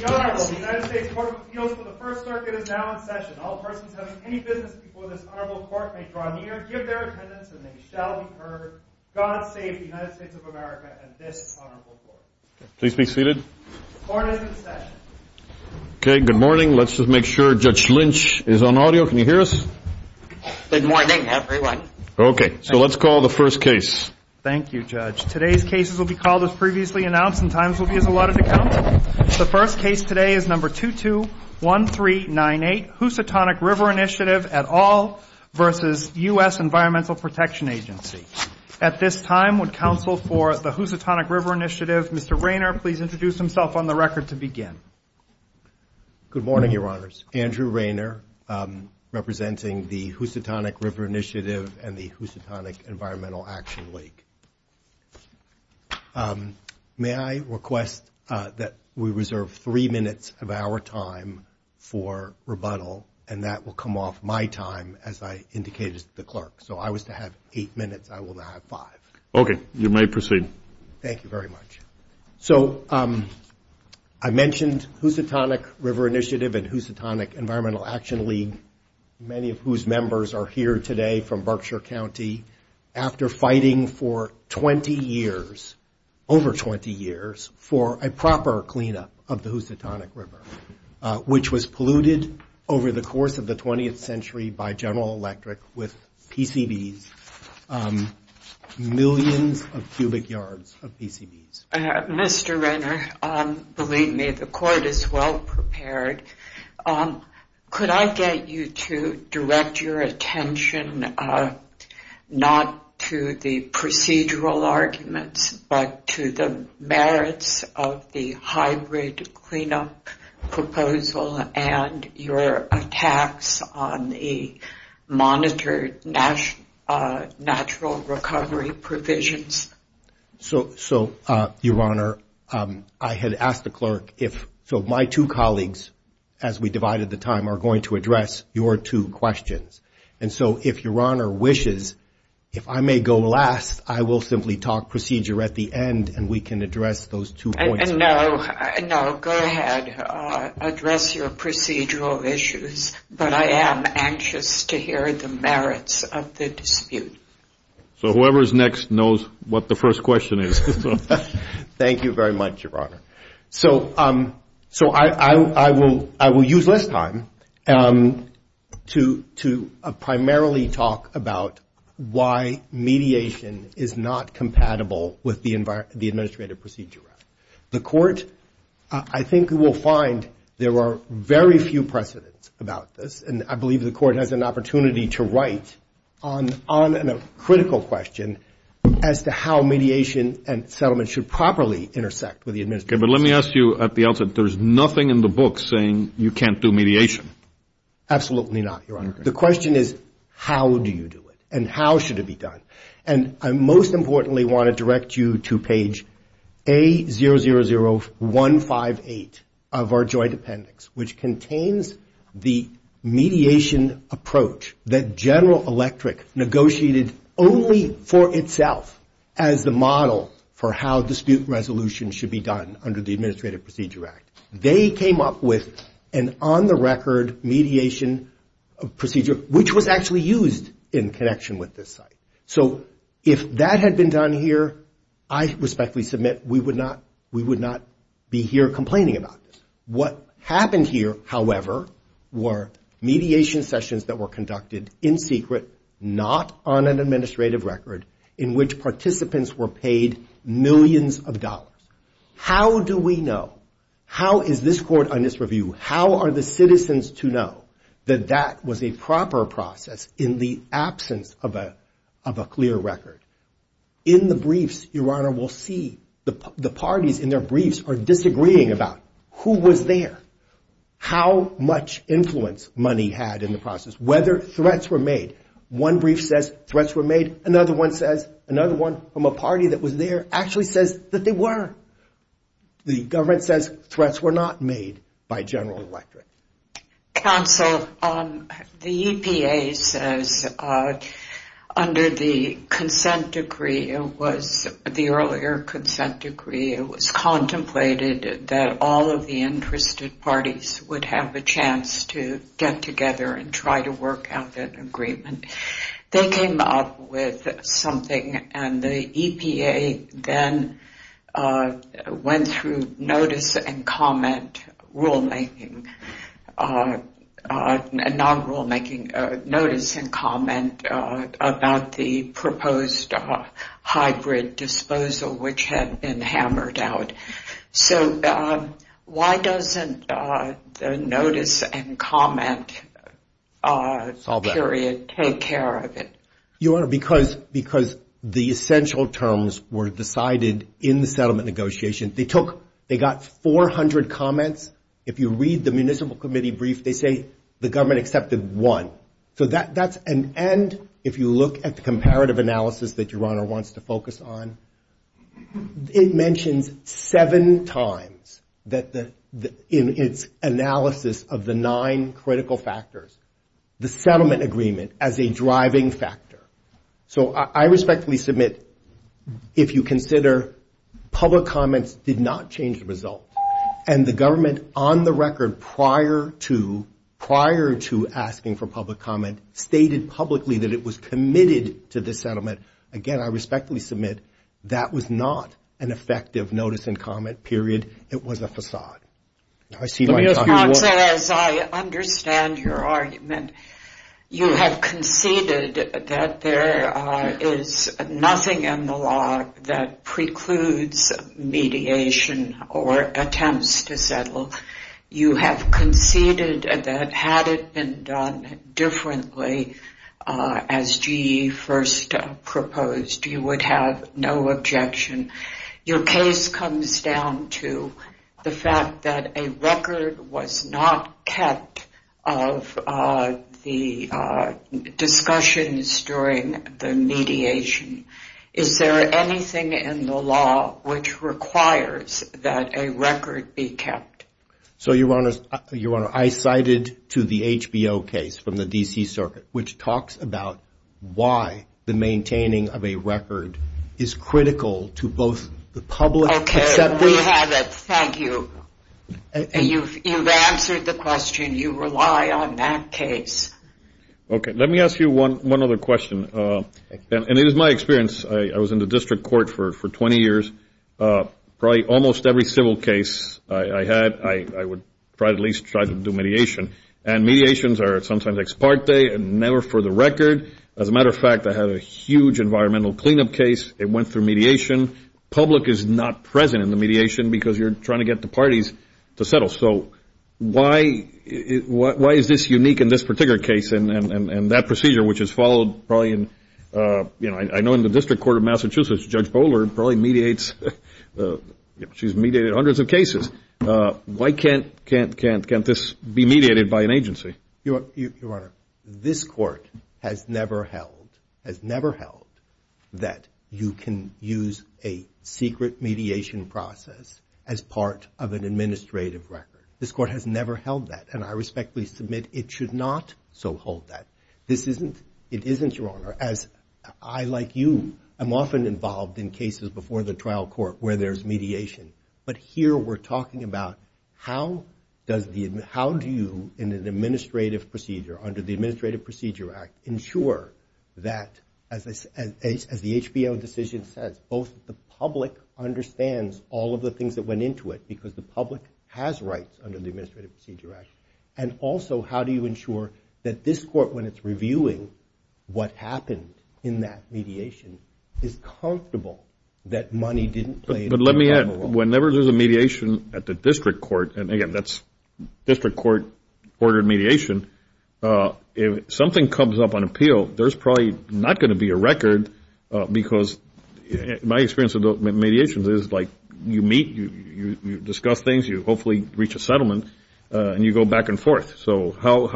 The Honorable United States Court of Appeals for the First Circuit is now in session. All persons having any business before this Honorable Court may draw near, give their attendance, and they shall be heard. God save the United States of America and this Honorable Court. Please be seated. Court is in session. Okay, good morning. Let's just make sure Judge Lynch is on audio. Can you hear us? Good morning, everyone. Okay, so let's call the first case. Thank you, Judge. Today's cases will be called as previously announced and times will be as allotted to count. The first case today is number 221398, Housatonic River Initiative et al. versus U.S. Environmental Protection Agency. At this time, would counsel for the Housatonic River Initiative, Mr. Raynor, please introduce himself on the record to begin. Good morning, Your Honors. Andrew Raynor, representing the Housatonic River Initiative and the Housatonic Environmental Action League. May I request that we reserve three minutes of our time for rebuttal, and that will come off my time as I indicated to the clerk. So if I was to have eight minutes, I will now have five. Okay, you may proceed. Thank you very much. So I mentioned Housatonic River Initiative and Housatonic Environmental Action League, many of whose members are here today from Berkshire County, after fighting for 20 years, over 20 years, for a proper cleanup of the Housatonic River, which was polluted over the course of the 20th century by General Electric with PCBs, millions of cubic yards of PCBs. Mr. Raynor, believe me, the court is well prepared. Could I get you to direct your attention not to the procedural arguments, but to the merits of the hybrid cleanup proposal and your attacks on the monitored natural recovery provisions? So, Your Honor, I had asked the clerk if my two colleagues, as we divided the time, are going to address your two questions. And so if Your Honor wishes, if I may go last, I will simply talk procedure at the end, and we can address those two points. No, go ahead. Address your procedural issues. But I am anxious to hear the merits of the dispute. So whoever is next knows what the first question is. Thank you very much, Your Honor. So I will use less time to primarily talk about why mediation is not compatible with the Administrative Procedure Act. The court, I think you will find there are very few precedents about this. And I believe the court has an opportunity to write on a critical question as to how mediation and settlement should properly intersect with the Administrative Procedure Act. Okay, but let me ask you at the outset, there is nothing in the book saying you can't do mediation. Absolutely not, Your Honor. The question is how do you do it, and how should it be done. And I most importantly want to direct you to page A000158 of our joint appendix, which contains the mediation and settlement mediation approach that General Electric negotiated only for itself as the model for how dispute resolution should be done under the Administrative Procedure Act. They came up with an on-the-record mediation procedure, which was actually used in connection with this site. So if that had been done here, I respectfully submit we would not be here complaining about this. What happened here, however, were mediation sessions that were conducted in secret, not on an administrative record in which participants were paid millions of dollars. How do we know, how is this court on this review, how are the citizens to know that that was a proper process in the absence of a clear record? In the briefs, Your Honor, we'll see the parties in their briefs are disagreeing about who was there, how much influence money had in the process, whether threats were made. One brief says threats were made, another one says, another one from a party that was there actually says that they were. The government says threats were not made by General Electric. Counsel, the EPA says under the consent decree, the earlier consent decree, it was contemplated that all of the interested parties would have a chance to get together and try to work out an agreement. They came up with something and the EPA then went through notice and comment rulemaking, not rulemaking, notice and comment about the proposed hybrid disposal, which had been hammered out. So why doesn't the notice and comment period take place? Your Honor, because the essential terms were decided in the settlement negotiation. They took, they got 400 comments. If you read the municipal committee brief, they say the government accepted one. So that's an end if you look at the comparative analysis that Your Honor wants to focus on. It mentions seven times that in its analysis of the nine critical factors, the settlement agreement as a driving factor. So I respectfully submit if you consider public comments did not change the result, and the government on the record prior to asking for public comment stated publicly that it was committed to the settlement, again, I respectfully submit that was not an effective notice and comment period. It was a facade. Let me ask you, as I understand your argument, you have conceded that there is nothing in the law that precludes mediation or attempts to settle. You have conceded that had it been done differently, as GE first proposed, you would have no objection. Your case comes down to the fact that a record was not kept of the discussions during the mediation. Is there anything in the law which requires that a record be kept? So, Your Honor, I cited to the HBO case from the D.C. Circuit, which talks about why the maintaining of a record is critical to both the public... Okay, we have it. Thank you. You've answered the question. You rely on that case. So why is this unique in this particular case and that procedure, which has followed probably in... I know in the District Court of Massachusetts, Judge Bowler probably mediates... She's mediated hundreds of cases. Why can't this be mediated by an agency? Your Honor, this Court has never held that you can use a secret mediation process as part of an administrative record. This Court has never held that, and I respectfully submit it should not so hold that. It isn't, Your Honor, as I, like you, am often involved in cases before the trial court where there's mediation. But here we're talking about how do you, in an administrative procedure, under the Administrative Procedure Act, ensure that, as the HBO decision says, both the public understands all of the things that went into it, because the public has rights under the Administrative Procedure Act, and also how do you ensure that this Court, when it's reviewing what happened in that mediation, is comfortable that money didn't play a role? But let me add, whenever there's a mediation at the District Court, and again, that's District Court-ordered mediation, if something comes up on appeal, there's probably not going to be a record, because my experience with mediations is, like, you meet, you discuss things, you hopefully reach a settlement, and you go back and forth. So how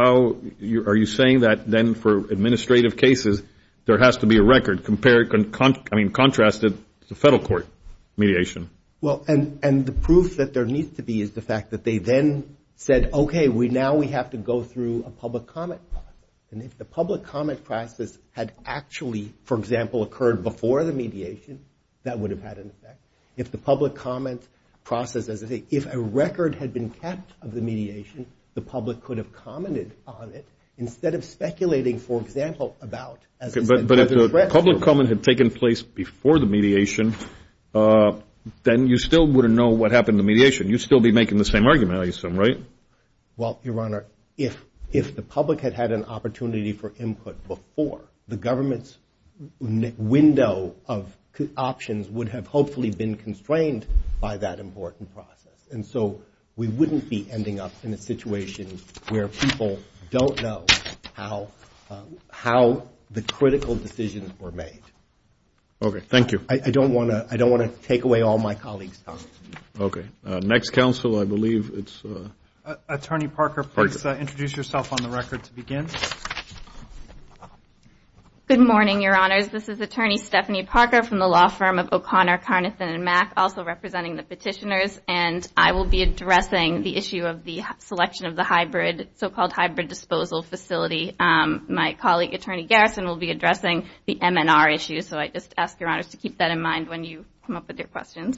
are you saying that, then, for administrative cases, there has to be a record compared, I mean, contrasted to federal court mediation? Well, and the proof that there needs to be is the fact that they then said, okay, now we have to go through a public comment process. And if the public comment process had actually, for example, occurred before the mediation, that would have had an effect. If the public comment process, as I say, if a record had been kept of the mediation, the public could have commented on it instead of speculating, for example, about, as I said- Okay, but if the public comment had taken place before the mediation, then you still wouldn't know what happened in the mediation. You'd still be making the same argument, I assume, right? Well, Your Honor, if the public had had an opportunity for input before, the government's window of options would have hopefully been constrained by that important process. And so we wouldn't be ending up in a situation where people don't know how the critical decisions were made. Okay, thank you. I don't want to take away all my colleagues' time. Okay, next counsel, I believe it's- Attorney Parker, please introduce yourself on the record to begin. Good morning, Your Honors. This is Attorney Stephanie Parker from the law firm of O'Connor, Carnathan & Mack, also representing the petitioners. And I will be addressing the issue of the selection of the so-called hybrid disposal facility. My colleague, Attorney Garrison, will be addressing the MNR issue. So I just ask Your Honors to keep that in mind when you come up with your questions.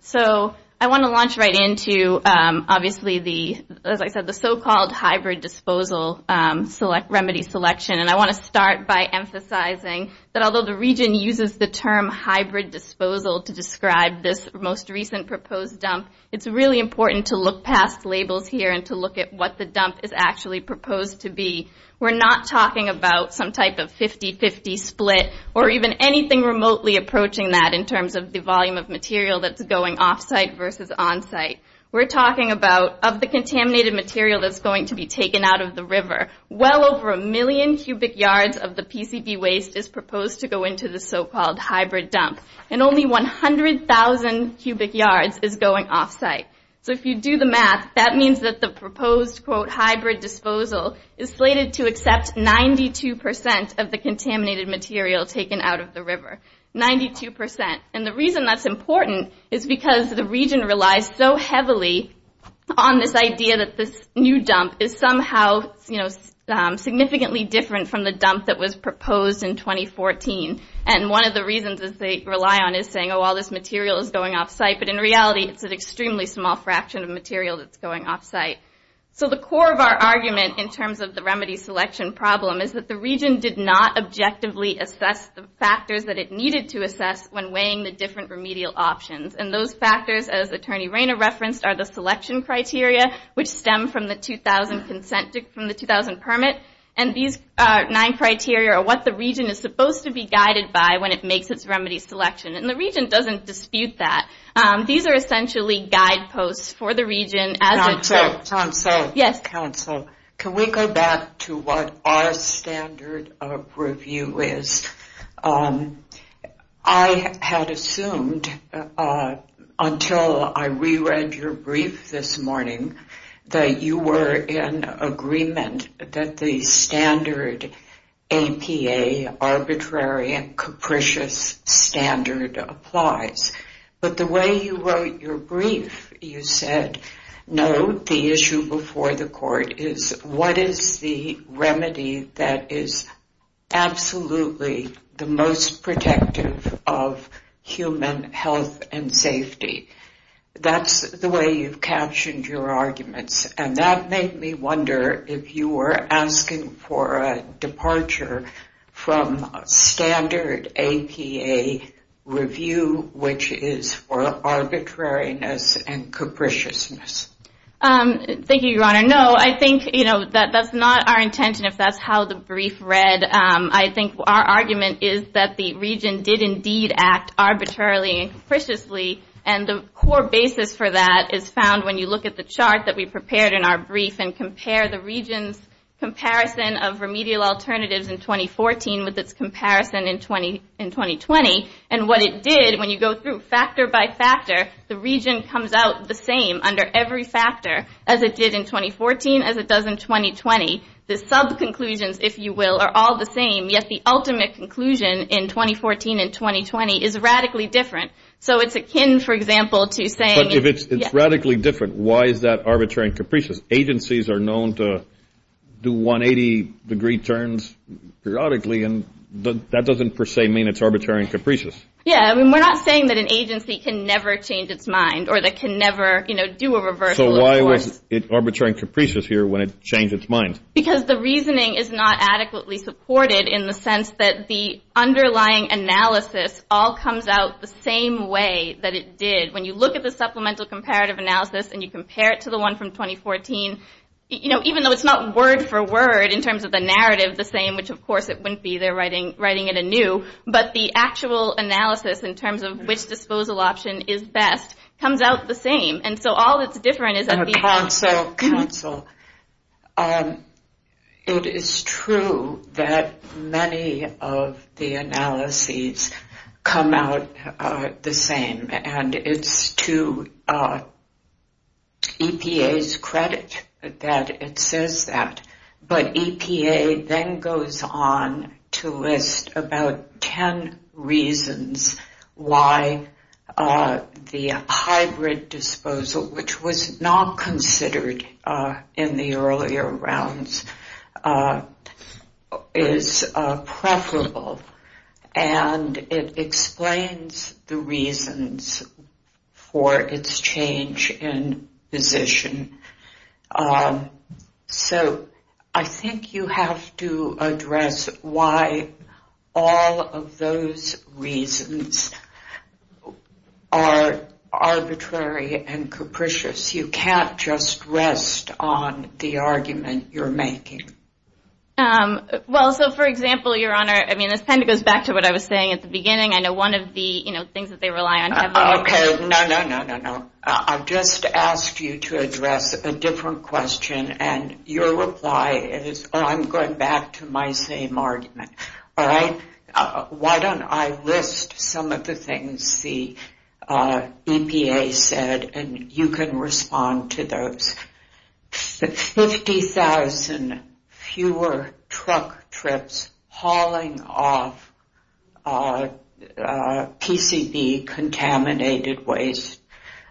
So I want to launch right into, obviously, the- as I said, the so-called hybrid disposal remedy selection. And I want to start by emphasizing that although the Region uses the term hybrid disposal to describe this most recent proposed dump, it's really important to look past labels here and to look at what the dump is actually proposed to be. We're not talking about some type of 50-50 split or even anything remotely approaching that in terms of the volume of material that's going off-site versus on-site. We're talking about, of the contaminated material that's going to be taken out of the river, well over a million cubic yards of the PCV waste is proposed to go into the so-called hybrid dump. And only 100,000 cubic yards is going off-site. So if you do the math, that means that the proposed, quote, hybrid disposal is slated to accept 92% of the contaminated material taken out of the river. 92%. And the reason that's important is because the Region relies so heavily on this idea that this new dump is somehow, you know, significantly different from the dump that was proposed in 2014. And one of the reasons that they rely on is saying, oh, all this material is going off-site, but in reality, it's an extremely small fraction of material that's going off-site. So the core of our argument in terms of the remedy selection problem is that the Region did not objectively assess the factors that it needed to assess when weighing the different remedial options. And those factors, as Attorney Rayner referenced, are the selection criteria, which stem from the 2000 permit. And these nine criteria are what the Region is supposed to be guided by when it makes its remedy selection. And the Region doesn't dispute that. These are essentially guideposts for the Region as it... Council, Council. Yes. Council. Can we go back to what our standard of review is? I had assumed, until I reread your brief this morning, that you were in agreement that the standard APA, arbitrary and capricious standard, applies. But the way you wrote your brief, you said, no, the issue before the court is, what is the remedy that is absolutely the most protective of human health and safety? That's the way you've captioned your arguments. And that made me wonder if you were asking for a departure from standard APA review, which is for arbitrariness and capriciousness. Thank you, Your Honor. No, I think that's not our intention, if that's how the brief read. I think our argument is that the Region did indeed act arbitrarily and capriciously, and the core basis for that is found when you look at the chart that we prepared in our brief and compare the Region's comparison of remedial alternatives in 2014 with its comparison in 2020. And what it did, when you go through factor by factor, the Region comes out the same under every factor as it did in 2014, as it does in 2020. The sub-conclusions, if you will, are all the same, yet the ultimate conclusion in 2014 and 2020 is radically different. So it's akin, for example, to saying – But if it's radically different, why is that arbitrary and capricious? Agencies are known to do 180-degree turns periodically, and that doesn't per se mean it's arbitrary and capricious. Yeah, I mean, we're not saying that an agency can never change its mind or that it can never do a reversal of course. So why was it arbitrary and capricious here when it changed its mind? Because the reasoning is not adequately supported in the sense that the underlying analysis all comes out the same way that it did. When you look at the supplemental comparative analysis and you compare it to the one from 2014, even though it's not word for word in terms of the narrative the same, which of course it wouldn't be, they're writing it anew, but the actual analysis in terms of which disposal option is best comes out the same. And so all that's different is that the – Also, counsel, it is true that many of the analyses come out the same, and it's to EPA's credit that it says that. But EPA then goes on to list about ten reasons why the hybrid disposal, which was not considered in the earlier rounds, is preferable. And it explains the reasons for its change in position. So I think you have to address why all of those reasons are arbitrary and capricious. You can't just rest on the argument you're making. Well, so, for example, Your Honor, I mean, this kind of goes back to what I was saying at the beginning. I know one of the things that they rely on heavily. Okay, no, no, no, no, no. I've just asked you to address a different question, and your reply is, oh, I'm going back to my same argument, all right? Why don't I list some of the things the EPA said, and you can respond to those. 50,000 fewer truck trips hauling off PCB-contaminated waste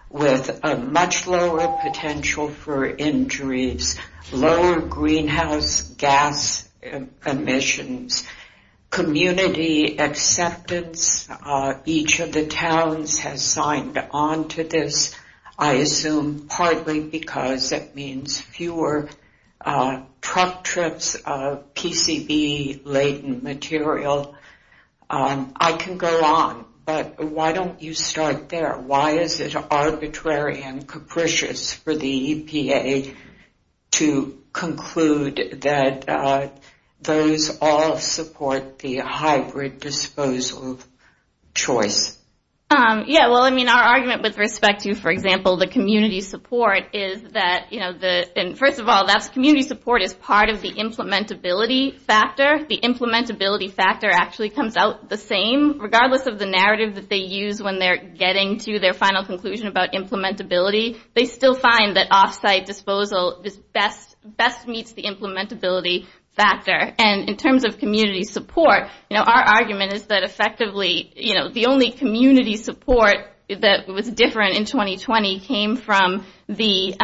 with a much lower potential for injuries, lower greenhouse gas emissions, community acceptance, each of the towns has signed on to this, I assume, partly because it means fewer truck trips of PCB-laden material. I can go on, but why don't you start there? Why is it arbitrary and capricious for the EPA to conclude that those all support the hybrid disposal choice? Yeah, well, I mean, our argument with respect to, for example, the community support is that, first of all, community support is part of the implementability factor. The implementability factor actually comes out the same, regardless of the narrative that they use when they're getting to their final conclusion about implementability. They still find that off-site disposal best meets the implementability factor. And in terms of community support, our argument is that, effectively, the only community support that was different in 2020 came from the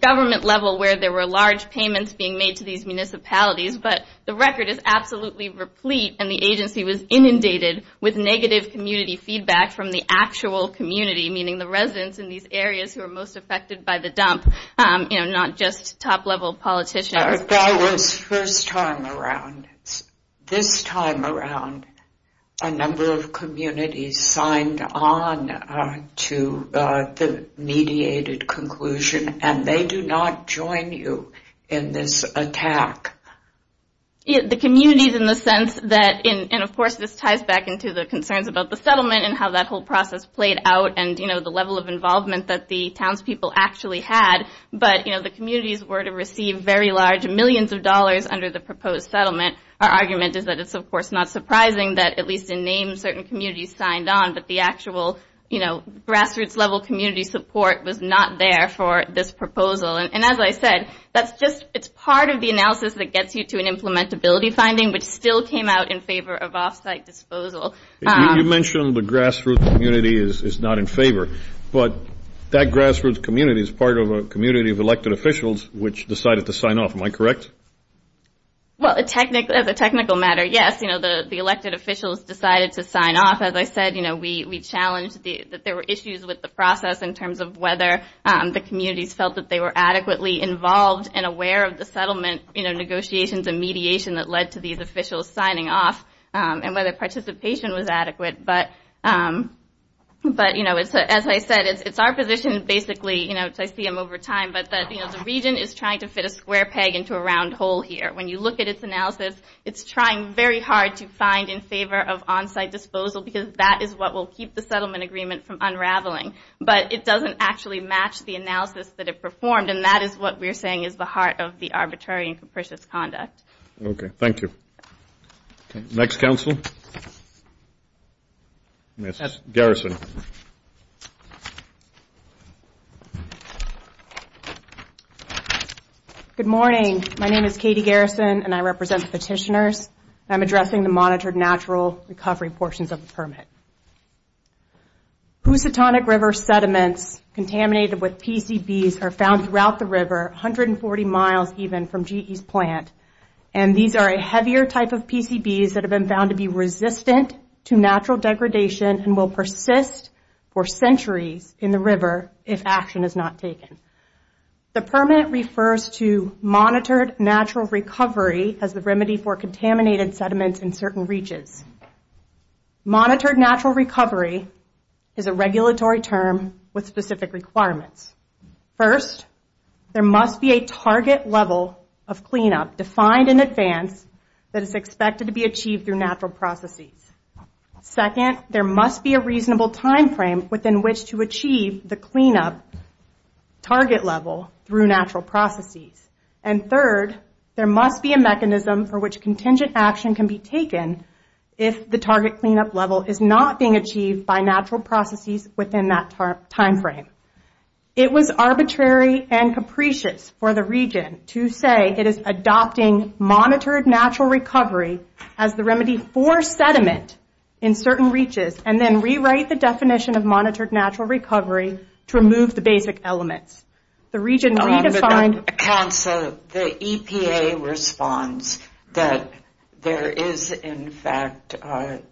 government level where there were large payments being made to these municipalities. But the record is absolutely replete, and the agency was inundated with negative community feedback from the actual community, meaning the residents in these areas who are most affected by the dump, not just top-level politicians. That was first time around. This time around, a number of communities signed on to the mediated conclusion, and they do not join you in this attack. The communities in the sense that, and, of course, this ties back into the concerns about the settlement and how that whole process played out and the level of involvement that the townspeople actually had, but the communities were to receive very large millions of dollars under the proposed settlement. Our argument is that it's, of course, not surprising that at least in name certain communities signed on, but the actual grassroots level community support was not there for this proposal. And as I said, it's part of the analysis that gets you to an implementability finding, which still came out in favor of off-site disposal. You mentioned the grassroots community is not in favor, but that grassroots community is part of a community of elected officials which decided to sign off. Am I correct? Well, as a technical matter, yes. The elected officials decided to sign off. As I said, we challenged that there were issues with the process in terms of whether the communities felt that they were adequately involved and aware of the settlement negotiations and mediation that led to these officials signing off and whether participation was adequate. But, you know, as I said, it's our position basically, you know, as I see them over time, but that the region is trying to fit a square peg into a round hole here. When you look at its analysis, it's trying very hard to find in favor of on-site disposal because that is what will keep the settlement agreement from unraveling. But it doesn't actually match the analysis that it performed, and that is what we're saying is the heart of the arbitrary and capricious conduct. Okay. Thank you. Next counsel, Ms. Garrison. Good morning. My name is Katie Garrison, and I represent the petitioners. I'm addressing the monitored natural recovery portions of the permit. Housatonic River sediments contaminated with PCBs are found throughout the river, 140 miles even from GE's plant, and these are a heavier type of PCBs that have been found to be resistant to natural degradation and will persist for centuries in the river if action is not taken. The permit refers to monitored natural recovery as the remedy for contaminated sediments in certain reaches. Monitored natural recovery is a regulatory term with specific requirements. First, there must be a target level of cleanup defined in advance that is expected to be achieved through natural processes. Second, there must be a reasonable timeframe within which to achieve the cleanup target level through natural processes. And third, there must be a mechanism for which contingent action can be taken if the target cleanup level is not being achieved by natural processes within that timeframe. It was arbitrary and capricious for the region to say it is adopting monitored natural recovery as the remedy for sediment in certain reaches and then rewrite the definition of monitored natural recovery to remove the basic elements. The region redefined... The EPA responds that there is in fact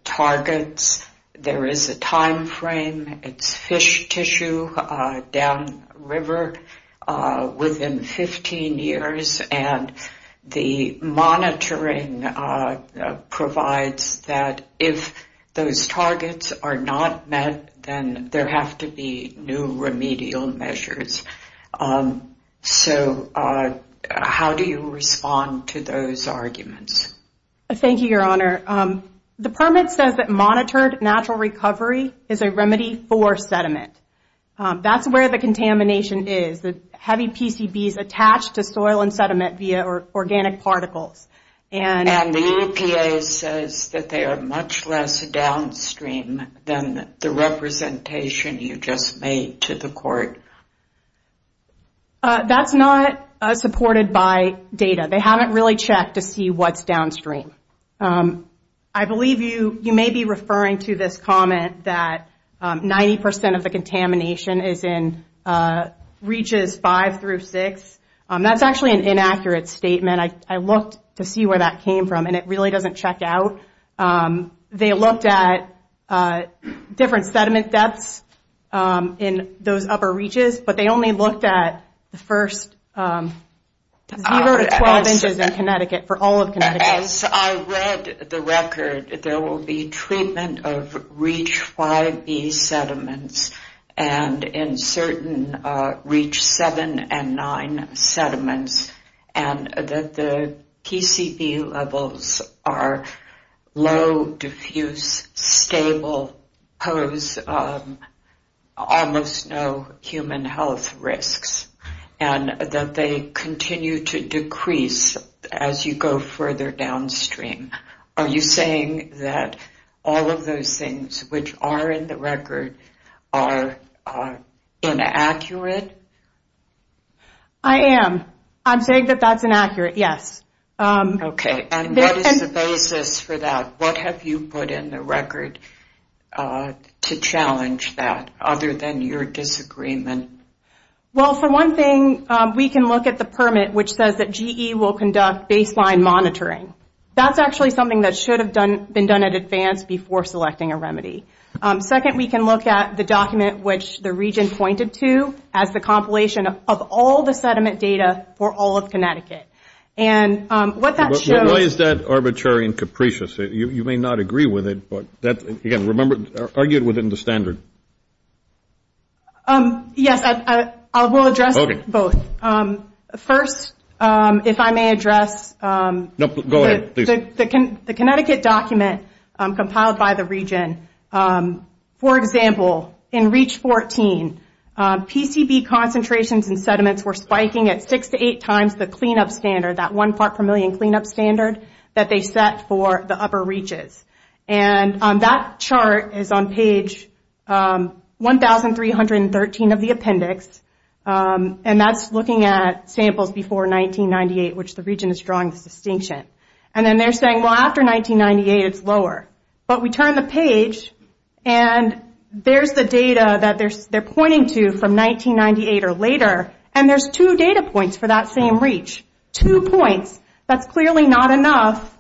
targets, there is a timeframe, it's fish tissue down river within 15 years and the monitoring provides that if those targets are not met, then there have to be new remedial measures. So how do you respond to those arguments? Thank you, Your Honor. The permit says that monitored natural recovery is a remedy for sediment. That's where the contamination is, the heavy PCBs attached to soil and sediment via organic particles. And the EPA says that they are much less downstream than the representation you just made to the court. That's not supported by data. They haven't really checked to see what's downstream. I believe you may be referring to this comment that 90% of the contamination is in reaches five through six. That's actually an inaccurate statement. I looked to see where that came from and it really doesn't check out. They looked at different sediment depths in those upper reaches, but they only looked at the first zero to 12 inches in Connecticut, for all of Connecticut. As I read the record, there will be treatment of reach 5b sediments and in certain reach 7 and 9 sediments and that the PCB levels are low, diffuse, stable, pose almost no human health risks and that they continue to decrease as you go further downstream. Are you saying that all of those things which are in the record are inaccurate? I am. I'm saying that that's inaccurate, yes. Okay. And what is the basis for that? What have you put in the record to challenge that other than your disagreement? Well, for one thing, we can look at the permit which says that GE will conduct baseline monitoring. That's actually something that should have been done in advance before selecting a remedy. Second, we can look at the document which the region pointed to as the compilation of all the sediment data for all of Connecticut. Why is that arbitrary and capricious? You may not agree with it, but again, argue it within the standard. Yes, I will address both. First, if I may address the Connecticut document compiled by the region. For example, in reach 14, PCB concentrations in sediments were spiking at six to eight times the clean-up standard, that one part per million clean-up standard that they set for the upper reaches. And that chart is on page 1,313 of the appendix. And that's looking at samples before 1998, which the region is drawing this distinction. And then they're saying, well, after 1998, it's lower. But we turn the page, and there's the data that they're pointing to from 1998 or later, and there's two data points for that same reach. Two points. That's clearly not enough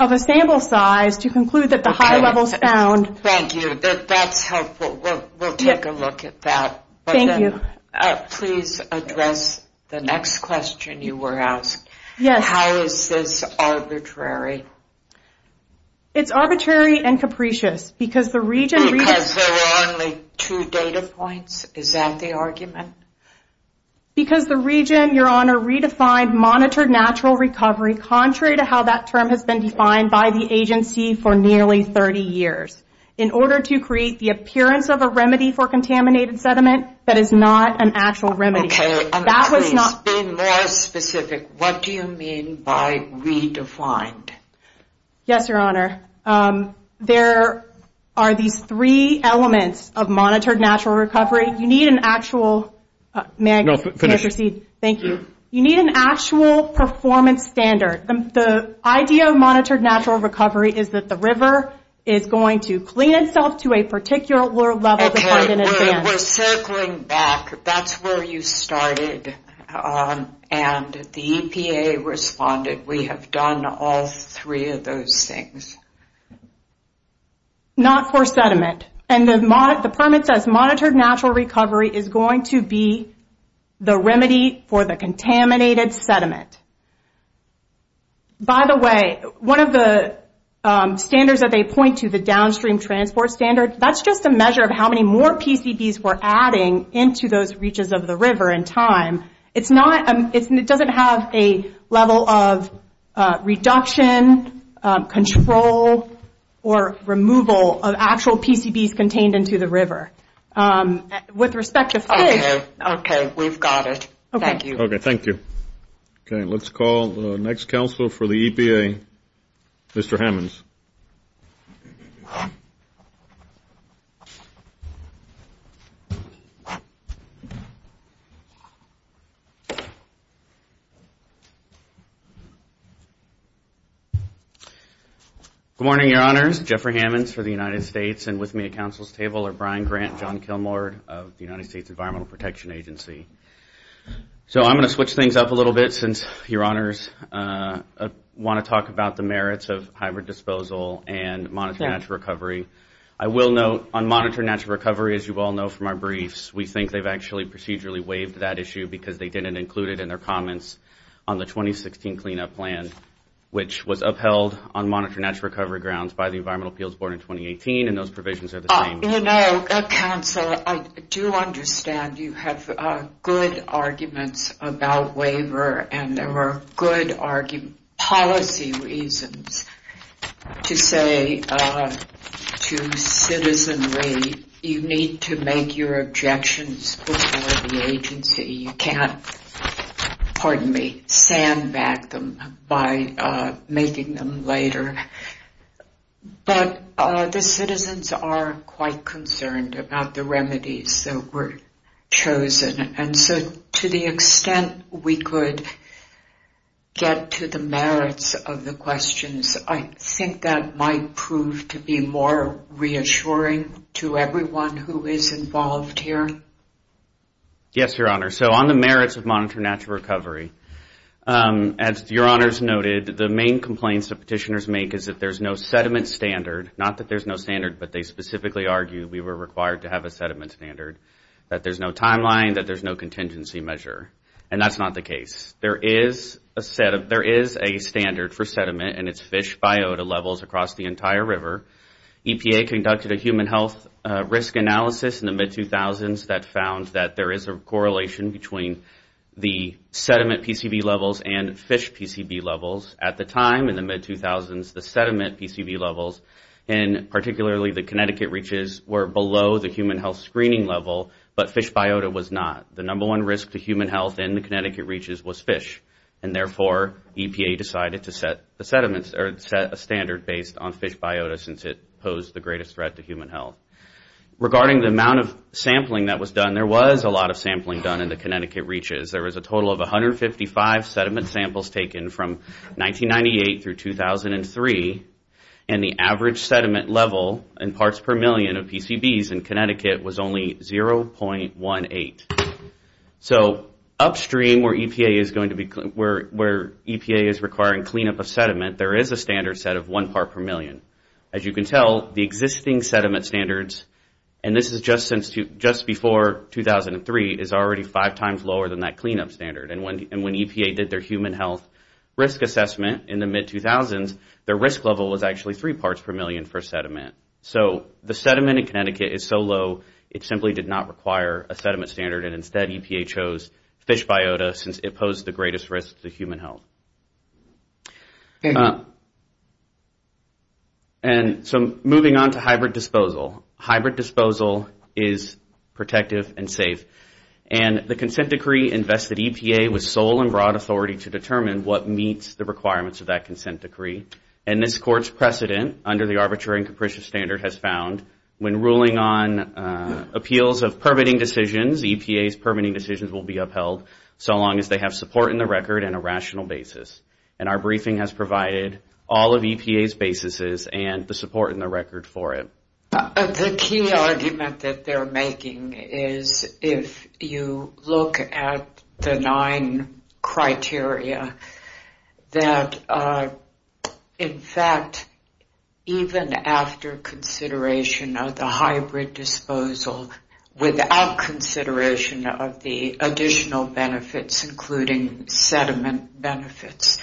of a sample size to conclude that the high level is found. Thank you. That's helpful. We'll take a look at that. Thank you. Please address the next question you were asked. Yes. How is this arbitrary? It's arbitrary and capricious because the region... Because there are only two data points? Is that the argument? Because the region, Your Honor, redefined monitored natural recovery, contrary to how that term has been defined by the agency for nearly 30 years, in order to create the appearance of a remedy for contaminated sediment that is not an actual remedy. Okay. Please be more specific. What do you mean by redefined? Yes, Your Honor. There are these three elements of monitored natural recovery. You need an actual... May I proceed? Thank you. You need an actual performance standard. The idea of monitored natural recovery is that the river is going to clean itself to a particular level to find an advance. We're circling back. That's where you started, and the EPA responded. We have done all three of those things. Not for sediment. The permit says monitored natural recovery is going to be the remedy for the contaminated sediment. By the way, one of the standards that they point to, the downstream transport standard, that's just a measure of how many more PCBs we're adding into those reaches of the river in time. It's not... It doesn't have a level of reduction, control, or removal of actual PCBs contained into the river. With respect to... Okay. We've got it. Thank you. Okay. Thank you. Okay. Let's call the next counsel for the EPA, Mr. Hammonds. Good morning, Your Honors. Jeffrey Hammonds for the United States. With me at counsel's table are Brian Grant and John Kilmore of the United States Environmental Protection Agency. I'm going to switch things up a little bit since Your Honors want to talk about the merits of hybrid disposal and monitored natural recovery. I will note, on monitored natural recovery, as you all know from our briefs, we think they've actually procedurally waived that issue because they didn't include it in their comments on the 2016 cleanup plan, which was upheld on monitored natural recovery grounds by the Environmental Appeals Board in 2018, and those provisions are the same. You know, counsel, I do understand you have good arguments about waiver, and there were good policy reasons to say to citizenry, you need to make your objections before the agency. You can't, pardon me, sandbag them by making them later. But the citizens are quite concerned about the remedies that were chosen, and so to the extent we could get to the merits of the questions, I think that might prove to be more reassuring to everyone who is involved here. Yes, Your Honor, so on the merits of monitored natural recovery, as Your Honors noted, the main complaints that petitioners make is that there's no sediment standard, not that there's no standard, but they specifically argue we were required to have a sediment standard, that there's no timeline, that there's no contingency measure, and that's not the case. There is a standard for sediment, and it's fish biota levels across the entire river. EPA conducted a human health risk analysis in the mid-2000s that found that there is a correlation between the sediment PCB levels and fish PCB levels. At the time, in the mid-2000s, the sediment PCB levels, and particularly the Connecticut reaches, were below the human health screening level, but fish biota was not. The number one risk to human health in the Connecticut reaches was fish, and therefore EPA decided to set a standard based on fish biota, since it posed the greatest threat to human health. Regarding the amount of sampling that was done, there was a lot of sampling done in the Connecticut reaches. There was a total of 155 sediment samples taken from 1998 through 2003, and the average sediment level in parts per million of PCBs in Connecticut was only 0.18. Upstream, where EPA is requiring cleanup of sediment, there is a standard set of one part per million. As you can tell, the existing sediment standards, and this is just before 2003, is already five times lower than that cleanup standard. When EPA did their human health risk assessment in the mid-2000s, their risk level was actually three parts per million for sediment. The sediment in Connecticut is so low, it simply did not require a sediment standard, and instead EPA chose fish biota, since it posed the greatest risk to human health. Moving on to hybrid disposal. Hybrid disposal is protective and safe. The consent decree invested EPA with sole and broad authority to determine what meets the requirements of that consent decree. This court's precedent under the arbitrary and capricious standard has found, when ruling on appeals of permitting decisions, EPA's permitting decisions will be upheld, so long as they have support in the record and a rational basis. And our briefing has provided all of EPA's basises and the support in the record for it. The key argument that they're making is, if you look at the nine criteria, that in fact, even after consideration, the hybrid disposal, without consideration of the additional benefits, including sediment benefits,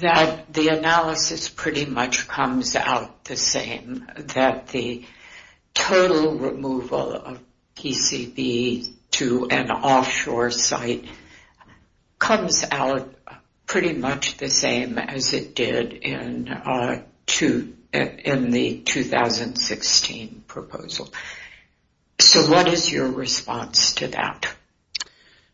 that the analysis pretty much comes out the same, that the total removal of PCB to an offshore site comes out pretty much the same as it did in the 2016 proposal. So what is your response to that?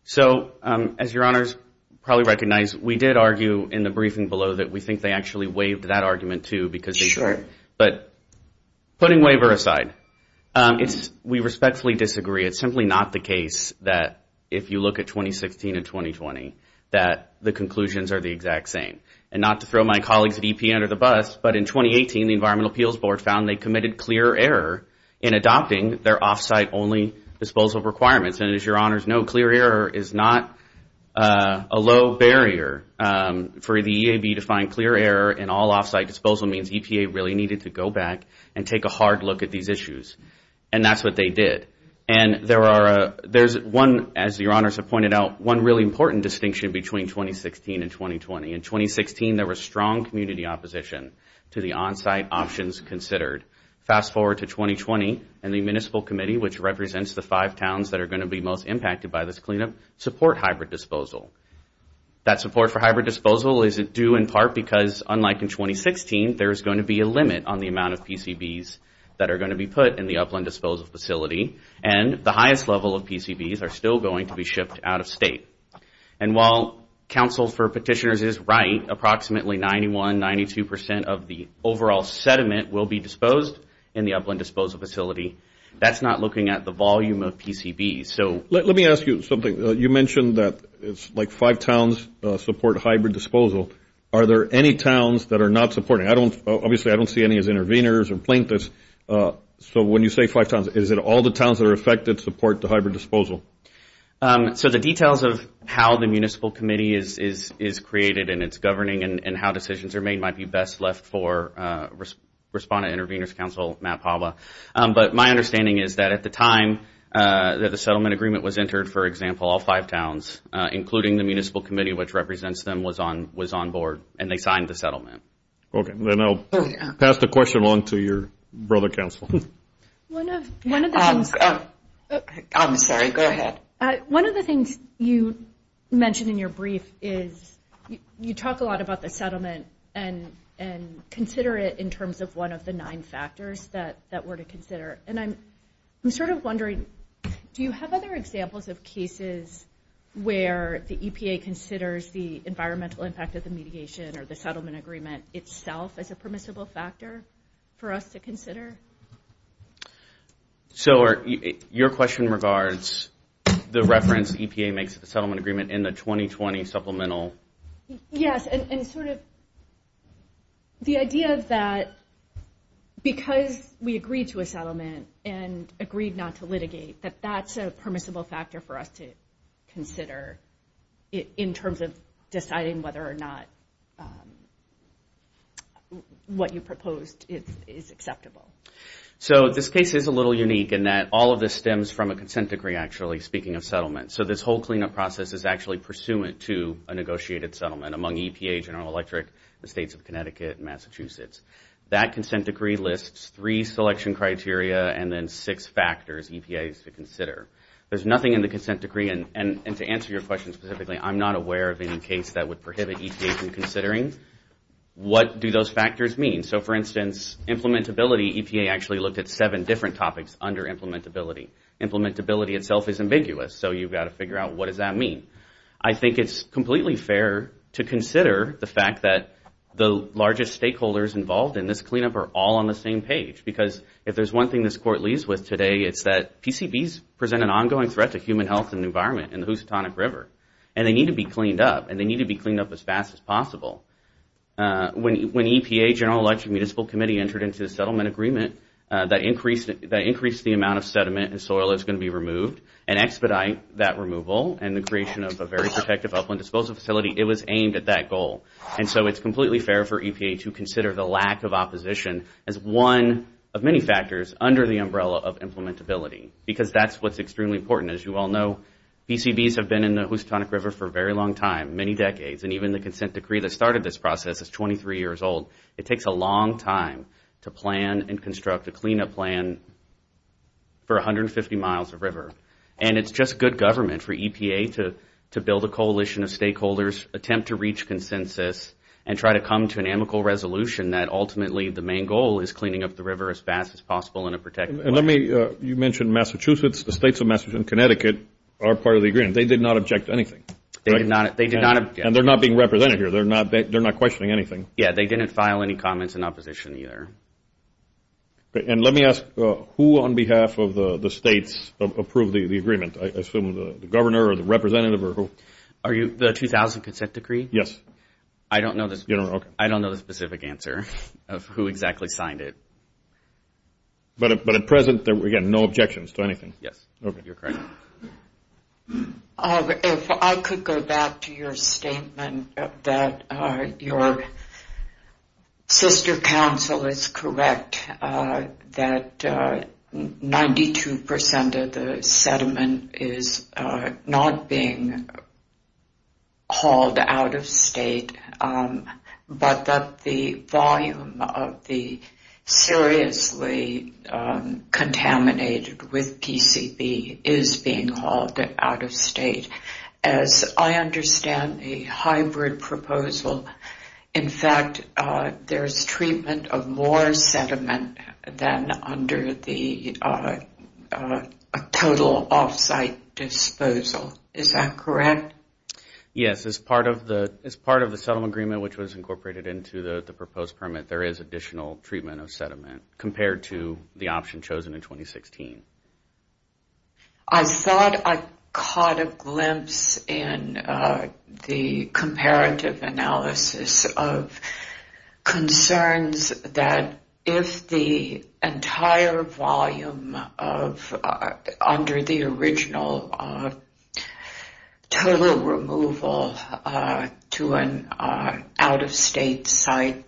So, as your honors probably recognize, we did argue in the briefing below that we think they actually waived that argument, too. But putting waiver aside, we respectfully disagree. It's simply not the case that, if you look at 2016 and 2020, that the conclusions are the exact same. And not to throw my colleagues at EPA under the bus, but in 2018, the Environmental Appeals Board found they committed clear error in adopting their off-site-only disposal requirements. And as your honors know, clear error is not a low barrier for the EAB to find clear error in all off-site disposal means EPA really needed to go back and take a hard look at these issues. And that's what they did. And there's one, as your honors have pointed out, one really important distinction between 2016 and 2020. In 2016, there was strong community opposition to the on-site options considered. Fast forward to 2020, and the Municipal Committee, which represents the five towns that are going to be most impacted by this cleanup, decided to support hybrid disposal. That support for hybrid disposal is due in part because, unlike in 2016, there's going to be a limit on the amount of PCBs that are going to be put in the upland disposal facility. And the highest level of PCBs are still going to be shipped out of state. And while Council for Petitioners is right, approximately 91, 92 percent of the overall sediment will be disposed in the upland disposal facility. That's not looking at the volume of PCBs. Let me ask you something. You mentioned that it's like five towns support hybrid disposal. Are there any towns that are not supporting? Obviously, I don't see any as intervenors or plaintiffs. So when you say five towns, is it all the towns that are affected support the hybrid disposal? So the details of how the Municipal Committee is created and it's governing and how decisions are made might be best left for Respondent Intervenors Council, Matt Pava. But my understanding is that at the time that the settlement agreement was entered, for example, all five towns, including the Municipal Committee, which represents them, was on board, and they signed the settlement. Okay, then I'll pass the question on to your brother, Council. I'm sorry, go ahead. One of the things you mentioned in your brief is you talk a lot about the settlement and consider it in terms of one of the nine factors that we're to consider. And I'm sort of wondering, do you have other examples of cases where the EPA considers the environmental impact of the mediation or the settlement agreement itself as a permissible factor for us to consider? So your question regards the reference EPA makes to the settlement agreement in the 2020 supplemental. Yes, and sort of the idea that because we agreed to a settlement and agreed not to litigate, that that's a permissible factor for us to consider in terms of deciding whether or not what you proposed is acceptable. So this case is a little unique in that all of this stems from a consent decree, actually, speaking of settlement. So this whole cleanup process is actually pursuant to a negotiated settlement among EPA, General Electric, the states of Connecticut and Massachusetts. That consent decree lists three selection criteria and then six factors EPA is to consider. There's nothing in the consent decree, and to answer your question specifically, I'm not aware of any case that would prohibit EPA from considering. What do those factors mean? So, for instance, implementability, EPA actually looked at seven different topics under implementability. Implementability itself is ambiguous, so you've got to figure out what does that mean? I think it's completely fair to consider the fact that the largest stakeholders involved in this cleanup are all on the same page, because if there's one thing this Court leaves with today, it's that PCBs present an ongoing threat to human health and the environment and the Housatonic River, and they need to be cleaned up, and they need to be cleaned up as fast as possible. When EPA, General Electric Municipal Committee, entered into a settlement agreement that increased the amount of sediment and soil that's going to be removed and expedite that removal and the creation of a very protective upland disposal facility, it was aimed at that goal. And so it's completely fair for EPA to consider the lack of opposition as one of many factors under the umbrella of implementability, because that's what's extremely important. As you all know, PCBs have been in the Housatonic River for a very long time, many decades, and even the consent decree that started this process is 23 years old. It takes a long time to plan and construct a cleanup plan for 150 miles of river, and it's just good government for EPA to build a coalition of stakeholders, attempt to reach consensus, and try to come to an amicable resolution that ultimately the main goal is cleaning up the river as fast as possible in a protective way. And let me, you mentioned Massachusetts. The states of Massachusetts and Connecticut are part of the agreement. They did not object to anything. They did not object. And they're not being represented here. They're not questioning anything. Yeah, they didn't file any comments in opposition either. And let me ask, who on behalf of the states approved the agreement? I assume the governor or the representative or who? The 2000 consent decree? Yes. I don't know the specific answer of who exactly signed it. But at present, again, no objections to anything? Yes. Okay. You're correct. If I could go back to your statement that your sister council is correct that 92% of the sediment is not being hauled out of state, but that the volume of the seriously contaminated with PCB is being hauled out of state. As I understand the hybrid proposal, in fact, there's treatment of more sediment than under the total off-site disposal. Is that correct? Yes. As part of the settlement agreement, which was incorporated into the proposed permit, there is additional treatment of sediment compared to the option chosen in 2016. I thought I caught a glimpse in the comparative analysis of concerns that if the entire volume under the original total removal to an out-of-state site,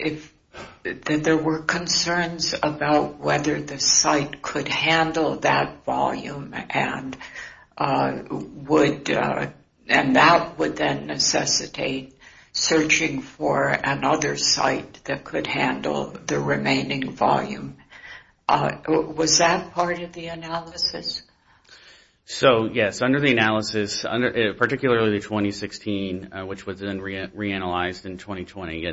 that there were concerns about whether the site could handle that volume and that would then necessitate searching for another site that could handle the remaining volume. Was that part of the analysis? Yes. Under the analysis, particularly the 2016, which was then reanalyzed in 2020,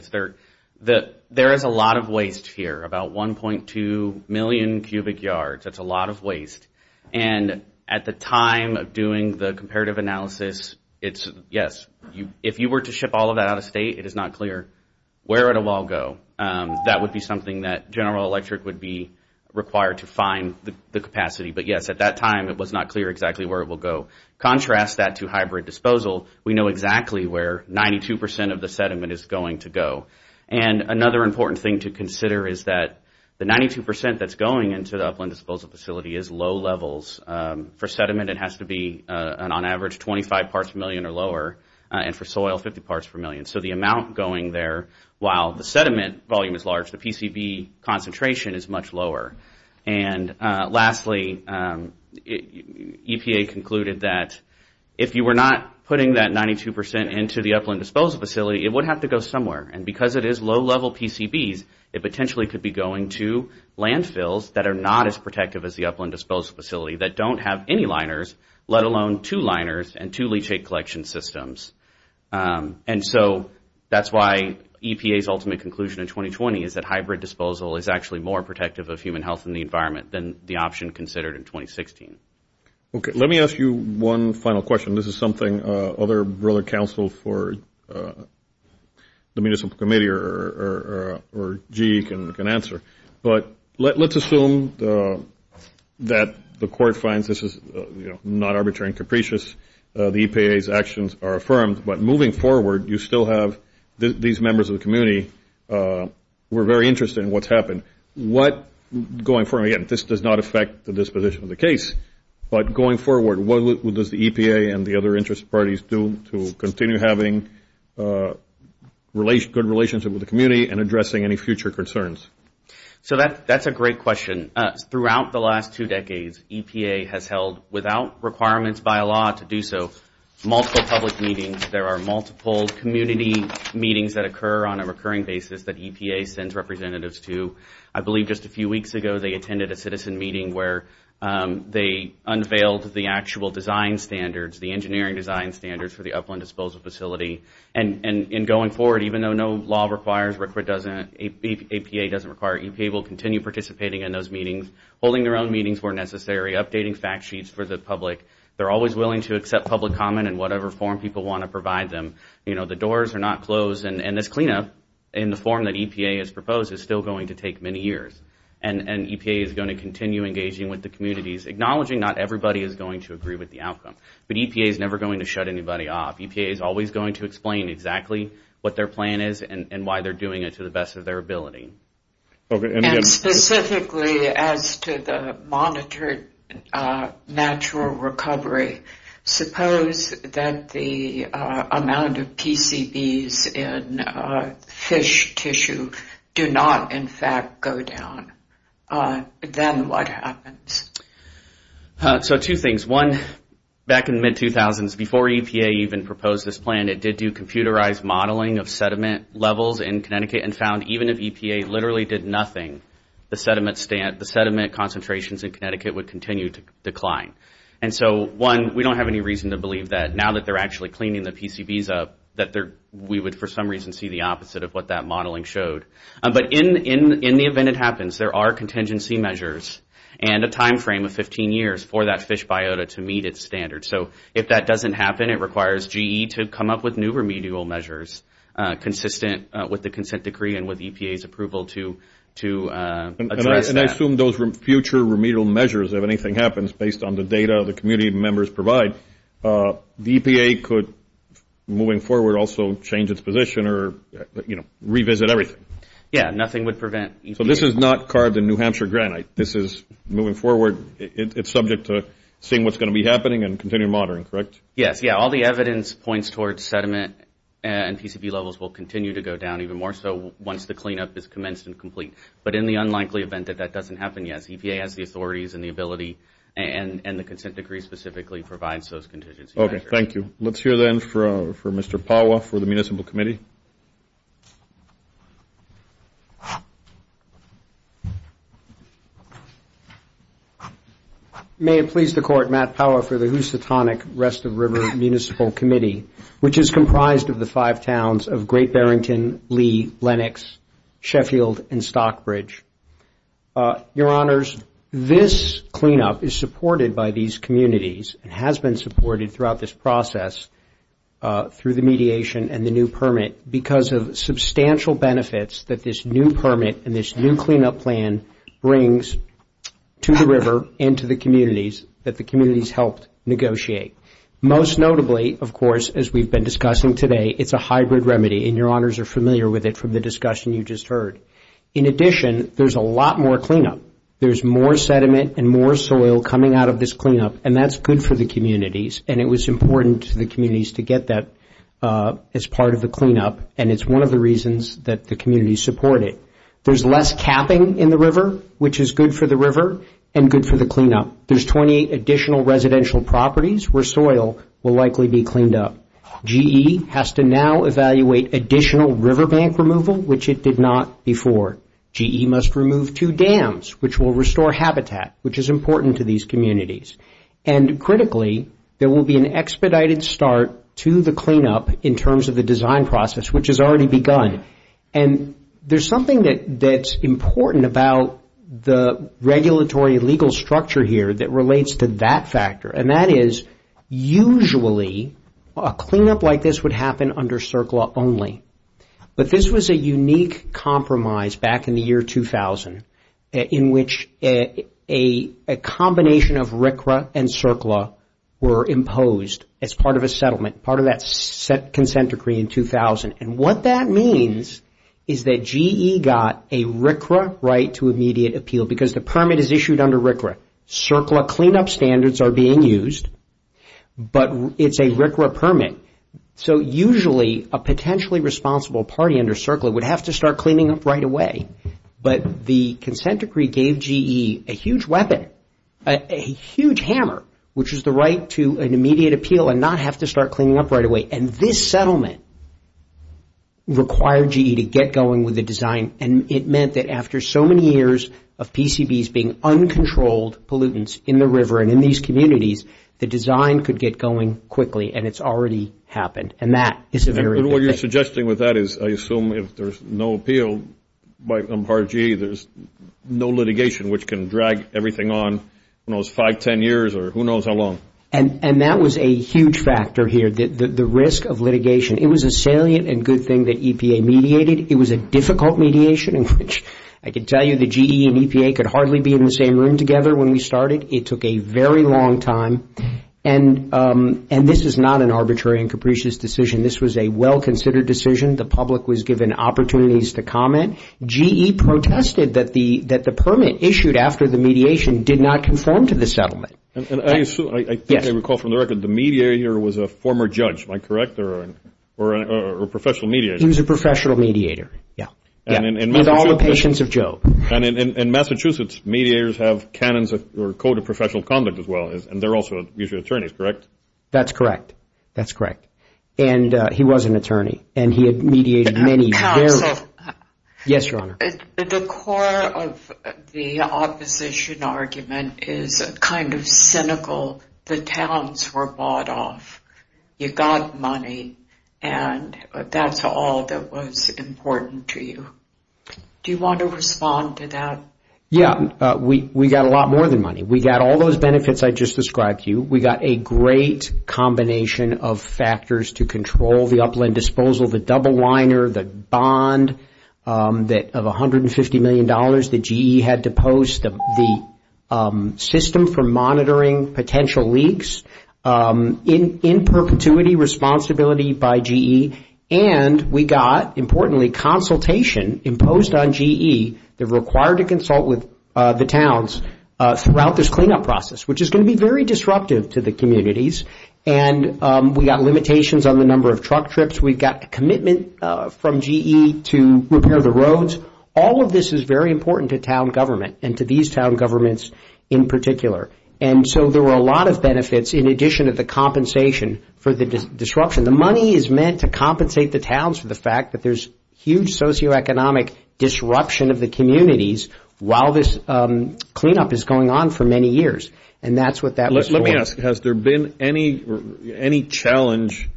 there is a lot of waste here, about 1.2 million cubic yards. That's a lot of waste. At the time of doing the comparative analysis, yes, if you were to ship all of that out of state, it is not clear where it will all go. That would be something that General Electric would be required to find the capacity. But yes, at that time, it was not clear exactly where it will go. Contrast that to hybrid disposal. We know exactly where 92% of the sediment is going to go. Another important thing to consider is that the 92% that's going into the upland disposal facility is low levels. For sediment, it has to be, on average, 25 parts per million or lower, and for soil, 50 parts per million. The amount going there, while the sediment volume is large, the PCB concentration is much lower. Lastly, EPA concluded that if you were not putting that 92% into the upland disposal facility, it would have to go somewhere. Because it is low-level PCBs, it potentially could be going to landfills that are not as protective as the upland disposal facility, that don't have any liners, let alone two liners and two leachate collection systems. And so that's why EPA's ultimate conclusion in 2020 is that hybrid disposal is actually more protective of human health and the environment than the option considered in 2016. Okay. Let me ask you one final question. This is something other broader counsel for the Municipal Committee or GE can answer. But let's assume that the court finds this is not arbitrary and capricious. The EPA's actions are affirmed. But moving forward, you still have these members of the community who are very interested in what's happened. Going forward, again, this does not affect the disposition of the case. But going forward, what does the EPA and the other interest parties do to continue having good relationship with the community and addressing any future concerns? So that's a great question. Throughout the last two decades, EPA has held, without requirements by law to do so, multiple public meetings. There are multiple community meetings that occur on a recurring basis that EPA sends representatives to. I believe just a few weeks ago they attended a citizen meeting where they unveiled the actual design standards, the engineering design standards for the upland disposal facility. And going forward, even though no law requires, EPA doesn't require, EPA will continue participating in those meetings, holding their own meetings where necessary, updating fact sheets for the public. They're always willing to accept public comment in whatever form people want to provide them. The doors are not closed, and this cleanup in the form that EPA has proposed is still going to take many years. And EPA is going to continue engaging with the communities, acknowledging not everybody is going to agree with the outcome. But EPA is never going to shut anybody off. EPA is always going to explain exactly what their plan is and why they're doing it to the best of their ability. And specifically as to the monitored natural recovery, suppose that the amount of PCBs in fish tissue do not, in fact, go down. Then what happens? So two things. One, back in the mid-2000s, before EPA even proposed this plan, it did do computerized modeling of sediment levels in Connecticut and found even if EPA literally did nothing, the sediment concentrations in Connecticut would continue to decline. And so, one, we don't have any reason to believe that now that they're actually cleaning the PCBs up, that we would for some reason see the opposite of what that modeling showed. But in the event it happens, there are contingency measures and a time frame of 15 years for that fish biota to meet its standards. So if that doesn't happen, it requires GE to come up with new remedial measures consistent with the consent decree and with EPA's approval to address that. And I assume those future remedial measures, if anything happens, based on the data the community members provide, the EPA could, moving forward, also change its position or, you know, revisit everything. Yeah, nothing would prevent EPA. So this is not carved in New Hampshire granite. This is, moving forward, it's subject to seeing what's going to be happening and continuing monitoring, correct? Yes, yeah. All the evidence points towards sediment and PCB levels will continue to go down even more so once the cleanup is commenced and complete. But in the unlikely event that that doesn't happen, yes, and the consent decree specifically provides those contingency measures. Okay, thank you. Let's hear, then, for Mr. Powah for the Municipal Committee. May it please the Court, Matt Powah for the Housatonic Rest of River Municipal Committee, which is comprised of the five towns of Great Barrington, Lee, Lenox, Sheffield, and Stockbridge. Your Honors, this cleanup is supported by these communities and has been supported throughout this process through the mediation and the new permit because of substantial benefits that this new permit and this new cleanup plan brings to the river and to the communities that the communities helped negotiate. Most notably, of course, as we've been discussing today, it's a hybrid remedy, and Your Honors are familiar with it from the discussion you just heard. In addition, there's a lot more cleanup. There's more sediment and more soil coming out of this cleanup, and that's good for the communities, and it was important to the communities to get that as part of the cleanup, and it's one of the reasons that the communities support it. There's less capping in the river, which is good for the river and good for the cleanup. There's 28 additional residential properties where soil will likely be cleaned up. GE has to now evaluate additional river bank removal, which it did not before. GE must remove two dams, which will restore habitat, which is important to these communities. And critically, there will be an expedited start to the cleanup in terms of the design process, which has already begun, and there's something that's important about the regulatory legal structure here that relates to that factor, and that is usually a cleanup like this would happen under CERCLA only, but this was a unique compromise back in the year 2000 in which a combination of RCRA and CERCLA were imposed as part of a settlement, part of that consent decree in 2000, and what that means is that GE got a RCRA right to immediate appeal because the permit is issued under RCRA. CERCLA cleanup standards are being used, but it's a RCRA permit, so usually a potentially responsible party under CERCLA would have to start cleaning up right away, but the consent decree gave GE a huge weapon, a huge hammer, which is the right to an immediate appeal and not have to start cleaning up right away, and this settlement required GE to get going with the design, and it meant that after so many years of PCBs being uncontrolled pollutants in the river and in these communities, the design could get going quickly, and it's already happened, and that is a very good thing. And what you're suggesting with that is I assume if there's no appeal on part of GE, there's no litigation which can drag everything on, who knows, five, ten years, or who knows how long. And that was a huge factor here, the risk of litigation. It was a salient and good thing that EPA mediated. It was a difficult mediation in which I can tell you that GE and EPA could hardly be in the same room together when we started. It took a very long time, and this is not an arbitrary and capricious decision. This was a well-considered decision. The public was given opportunities to comment. GE protested that the permit issued after the mediation did not conform to the settlement. And I assume, I think I recall from the record, the mediator was a former judge, am I correct, or a professional mediator? He was a professional mediator, yeah, with all the patience of Job. And in Massachusetts, mediators have canons or code of professional conduct as well, and they're also usually attorneys, correct? That's correct. That's correct. And he was an attorney, and he had mediated many, very- Yes, Your Honor. The core of the opposition argument is kind of cynical. The towns were bought off. You got money, and that's all that was important to you. Do you want to respond to that? Yeah, we got a lot more than money. We got all those benefits I just described to you. We got a great combination of factors to control the upland disposal, the double liner, the bond of $150 million that GE had to post, the system for monitoring potential leaks in perpetuity, responsibility by GE. And we got, importantly, consultation imposed on GE, they're required to consult with the towns throughout this cleanup process, which is going to be very disruptive to the communities. And we got limitations on the number of truck trips. We got commitment from GE to repair the roads. All of this is very important to town government and to these town governments in particular. And so there were a lot of benefits in addition to the compensation for the disruption. The money is meant to compensate the towns for the fact that there's huge socioeconomic disruption of the communities while this cleanup is going on for many years. And that's what that was for. Let me ask, has there been any challenge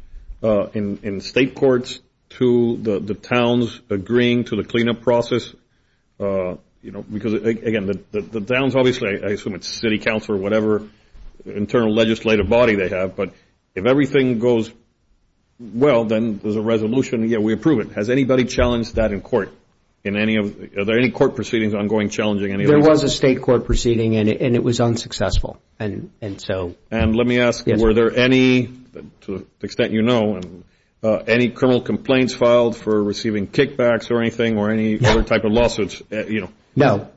in state courts to the towns agreeing to the cleanup process? Because, again, the towns obviously, I assume it's city council or whatever internal legislative body they have, but if everything goes well, then there's a resolution, yeah, we approve it. Has anybody challenged that in court? Are there any court proceedings ongoing challenging any of those? There was a state court proceeding and it was unsuccessful. And let me ask, were there any, to the extent you know, any criminal complaints filed for receiving kickbacks or anything or any other type of lawsuits? No.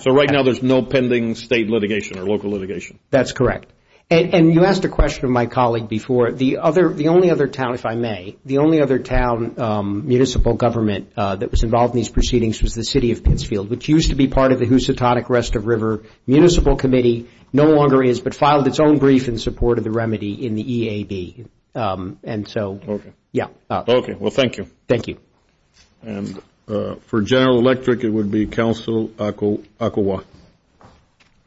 So right now there's no pending state litigation or local litigation? That's correct. And you asked a question of my colleague before. The only other town, if I may, the only other town municipal government that was involved in these proceedings was the city of Pittsfield, which used to be part of the Housatonic Rest of River Municipal Committee, no longer is, but filed its own brief in support of the remedy in the EAB. And so, yeah. Okay. Well, thank you. And for General Electric, it would be Counsel Akowa. I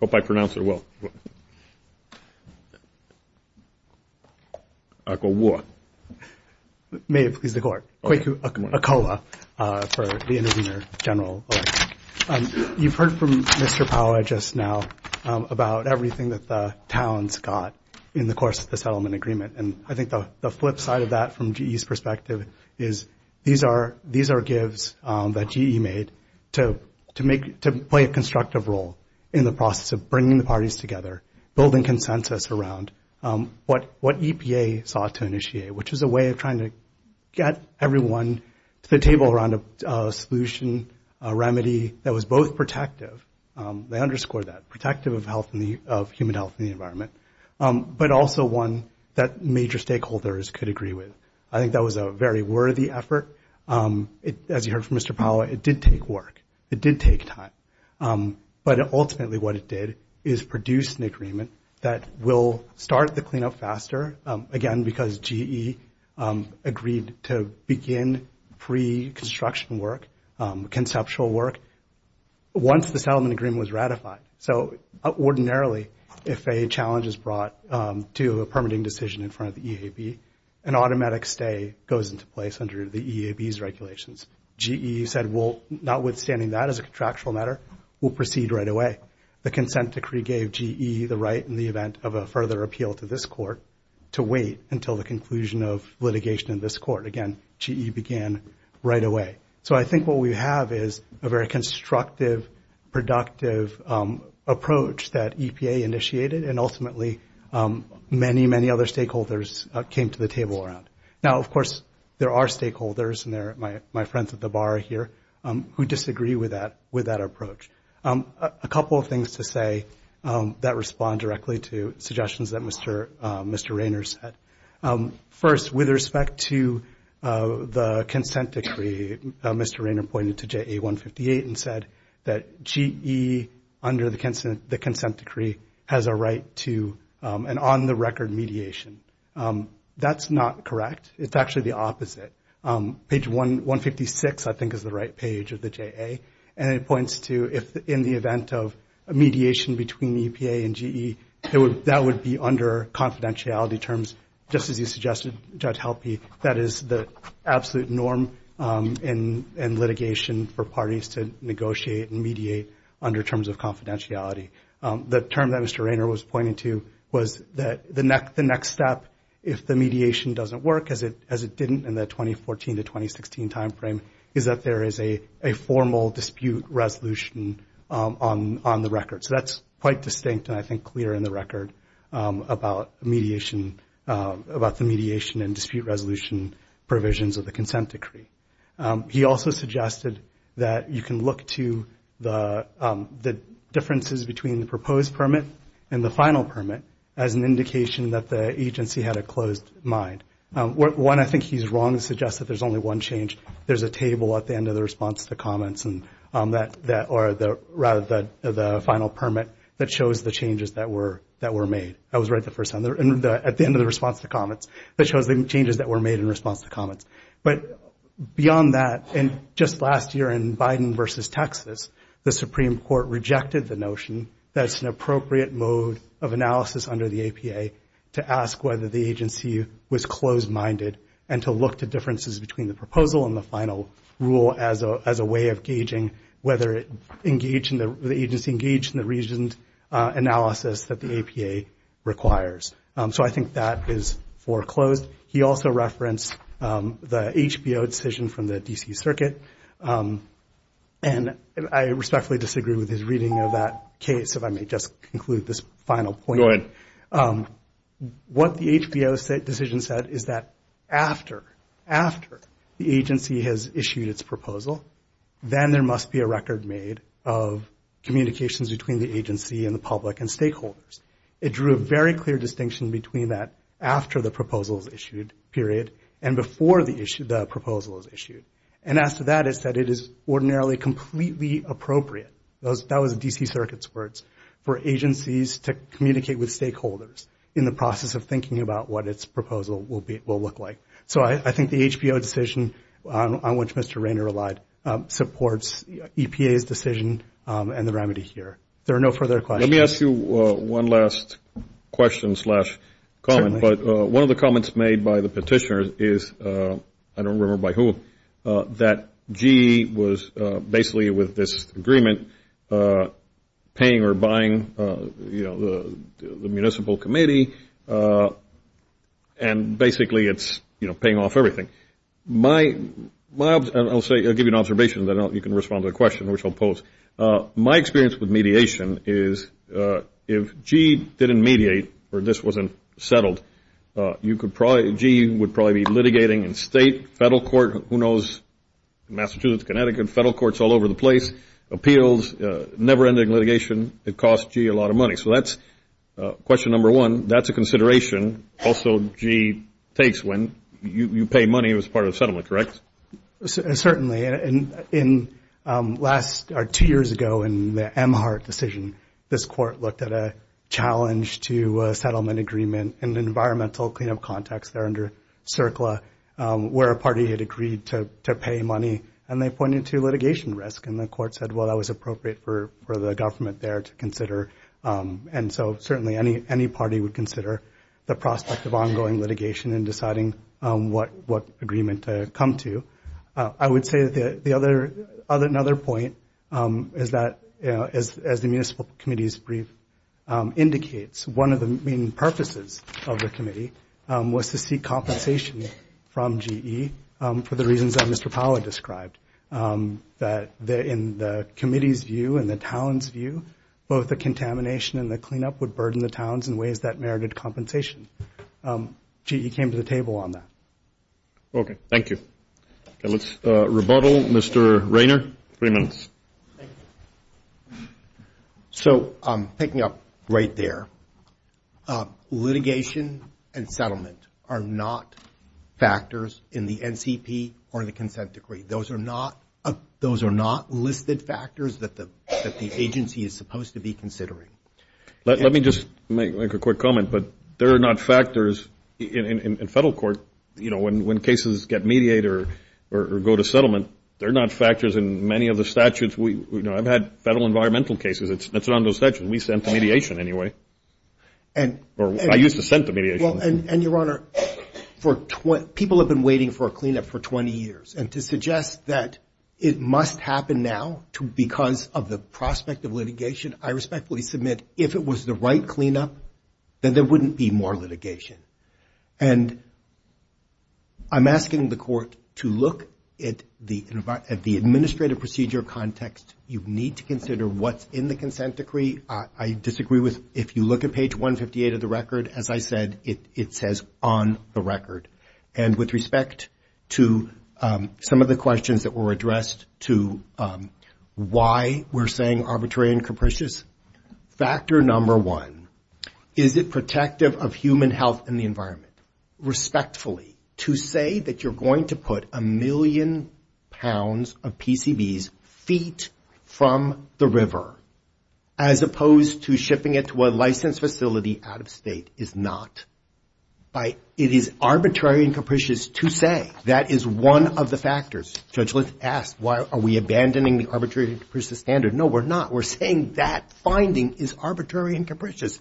hope I pronounced it well. Akowa. May it please the Court. Thank you. Akowa for the Intervener General Electric. You've heard from Mr. Powell just now about everything that the towns got in the course of the settlement agreement. And I think the flip side of that from GE's perspective is these are gives that GE made to make, to play a constructive role in the process of bringing the parties together, building consensus around what EPA sought to initiate, which is a way of trying to get everyone to the table around a solution, a remedy, that was both protective, they underscore that, protective of human health and the environment, but also one that major stakeholders could agree with. I think that was a very worthy effort. As you heard from Mr. Powell, it did take work. It did take time. But ultimately what it did is produce an agreement that will start the cleanup faster, again, because GE agreed to begin pre-construction work, conceptual work, once the settlement agreement was ratified. So ordinarily, if a challenge is brought to a permitting decision in front of the EAB, an automatic stay goes into place under the EAB's regulations. GE said, well, notwithstanding that as a contractual matter, we'll proceed right away. The consent decree gave GE the right, in the event of a further appeal to this court, to wait until the conclusion of litigation in this court. Again, GE began right away. So I think what we have is a very constructive, productive approach that EPA initiated, and ultimately many, many other stakeholders came to the table around. Now, of course, there are stakeholders, and they're my friends at the bar here, who disagree with that approach. A couple of things to say that respond directly to suggestions that Mr. Raynor said. First, with respect to the consent decree, Mr. Raynor pointed to JA-158 and said that GE, under the consent decree, has a right to an on-the-record mediation. That's not correct. It's actually the opposite. Page 156, I think, is the right page of the JA, and it points to if in the event of a mediation between EPA and GE, that would be under confidentiality terms, just as you suggested, Judge Helpe. That is the absolute norm in litigation for parties to negotiate and mediate under terms of confidentiality. The term that Mr. Raynor was pointing to was that the next step, if the mediation doesn't work, as it didn't in the 2014 to 2016 timeframe, is that there is a formal dispute resolution on the record. So that's quite distinct and, I think, clear in the record about the mediation and dispute resolution provisions of the consent decree. He also suggested that you can look to the differences between the proposed permit and the final permit as an indication that the agency had a closed mind. One, I think he's wrong to suggest that there's only one change. There's a table at the end of the response to comments, or rather the final permit, that shows the changes that were made. That was right at the end of the response to comments, that shows the changes that were made in response to comments. But beyond that, just last year in Biden versus Texas, the Supreme Court rejected the notion that it's an appropriate mode of analysis under the APA to ask whether the agency was closed-minded and to look to differences between the proposal and the final rule as a way of gauging whether the agency engaged in the reasoned analysis that the APA requires. So I think that is foreclosed. He also referenced the HBO decision from the D.C. Circuit, and I respectfully disagree with his reading of that case, if I may just conclude this final point. What the HBO decision said is that after, after the agency has issued its proposal, then there must be a record made of communications between the agency and the public and stakeholders. It drew a very clear distinction between that after the proposal was issued, period, and before the proposal was issued. And as to that, it said it is ordinarily completely appropriate, that was D.C. Circuit's words, for agencies to communicate with stakeholders in the process of thinking about what its proposal will look like. So I think the HBO decision on which Mr. Rainer relied supports EPA's decision and the remedy here. There are no further questions. Let me ask you one last question slash comment. But one of the comments made by the petitioner is, I don't remember by whom, that GE was basically with this agreement paying or buying, you know, the municipal committee, and basically it's, you know, paying off everything. My, I'll say, I'll give you an observation, then you can respond to the question, which I'll pose. My experience with mediation is if GE didn't mediate or this wasn't settled, you could probably, GE would probably be litigating in state, federal court, who knows, Massachusetts, Connecticut, federal courts all over the place, appeals, never-ending litigation. It costs GE a lot of money. So that's question number one. That's a consideration also GE takes when you pay money as part of the settlement, correct? Certainly. And in last, or two years ago in the Emhart decision, this court looked at a challenge to a settlement agreement in an environmental cleanup context there under CERCLA, where a party had agreed to pay money, and they pointed to litigation risk. And the court said, well, that was appropriate for the government there to consider. And so certainly any party would consider the prospect of ongoing litigation and deciding what agreement to come to. I would say that the other, another point is that as the municipal committee's brief indicates, one of the main purposes of the committee was to seek compensation from GE for the reasons that Mr. Towns' view, both the contamination and the cleanup would burden the towns in ways that merited compensation. GE came to the table on that. Okay. Thank you. Let's rebuttal. Mr. Rainer, three minutes. So picking up right there, litigation and settlement are not factors in the NCP or the consent decree. Those are not listed factors that the agency is supposed to be considering. Let me just make a quick comment. But they're not factors in federal court. You know, when cases get mediated or go to settlement, they're not factors in many of the statutes. You know, I've had federal environmental cases. It's around those statutes. We sent the mediation anyway. Or I used to send the mediation. And, Your Honor, people have been waiting for a cleanup for 20 years. And to suggest that it must happen now because of the prospect of litigation, I respectfully submit if it was the right cleanup, then there wouldn't be more litigation. And I'm asking the court to look at the administrative procedure context. You need to consider what's in the consent decree. I disagree with if you look at page 158 of the record, as I said, it says on the record. And with respect to some of the questions that were addressed to why we're saying arbitrary and capricious, factor number one, is it protective of human health and the environment? Respectfully, to say that you're going to put a million pounds of PCBs feet from the river, as opposed to shipping it to a licensed facility out of state, is not. It is arbitrary and capricious to say. That is one of the factors. Judge List asked, are we abandoning the arbitrary and capricious standard? No, we're not. We're saying that finding is arbitrary and capricious.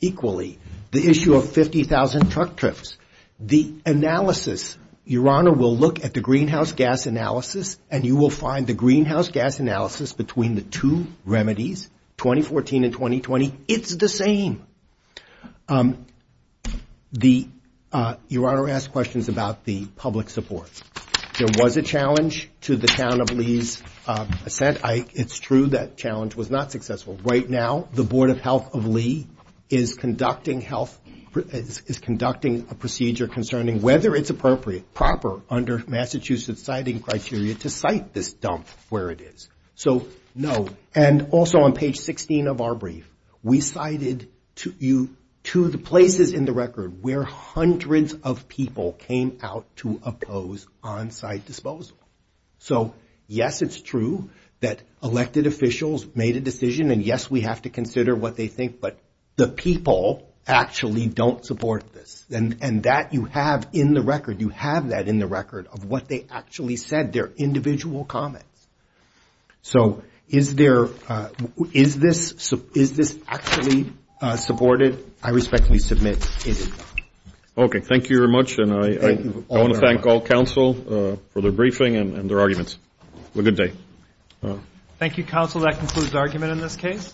Equally, the issue of 50,000 truck trips. The analysis, Your Honor, we'll look at the greenhouse gas analysis, and you will find the greenhouse gas analysis between the two remedies, 2014 and 2020, it's the same. Your Honor asked questions about the public support. There was a challenge to the town of Lee's assent. It's true that challenge was not successful. Right now, the Board of Health of Lee is conducting a procedure concerning whether it's appropriate, proper under Massachusetts citing criteria to cite this dump where it is. So, no. And also on page 16 of our brief, we cited to the places in the record where hundreds of people came out to oppose on-site disposal. So, yes, it's true that elected officials made a decision, and yes, we have to consider what they think, but the people actually don't support this. And that you have in the record. You have that in the record of what they actually said, their individual comments. So, is this actually supported? I respectfully submit it is not. Okay. Thank you very much, and I want to thank all counsel for their briefing and their arguments. Have a good day. Thank you, counsel. That concludes the argument in this case.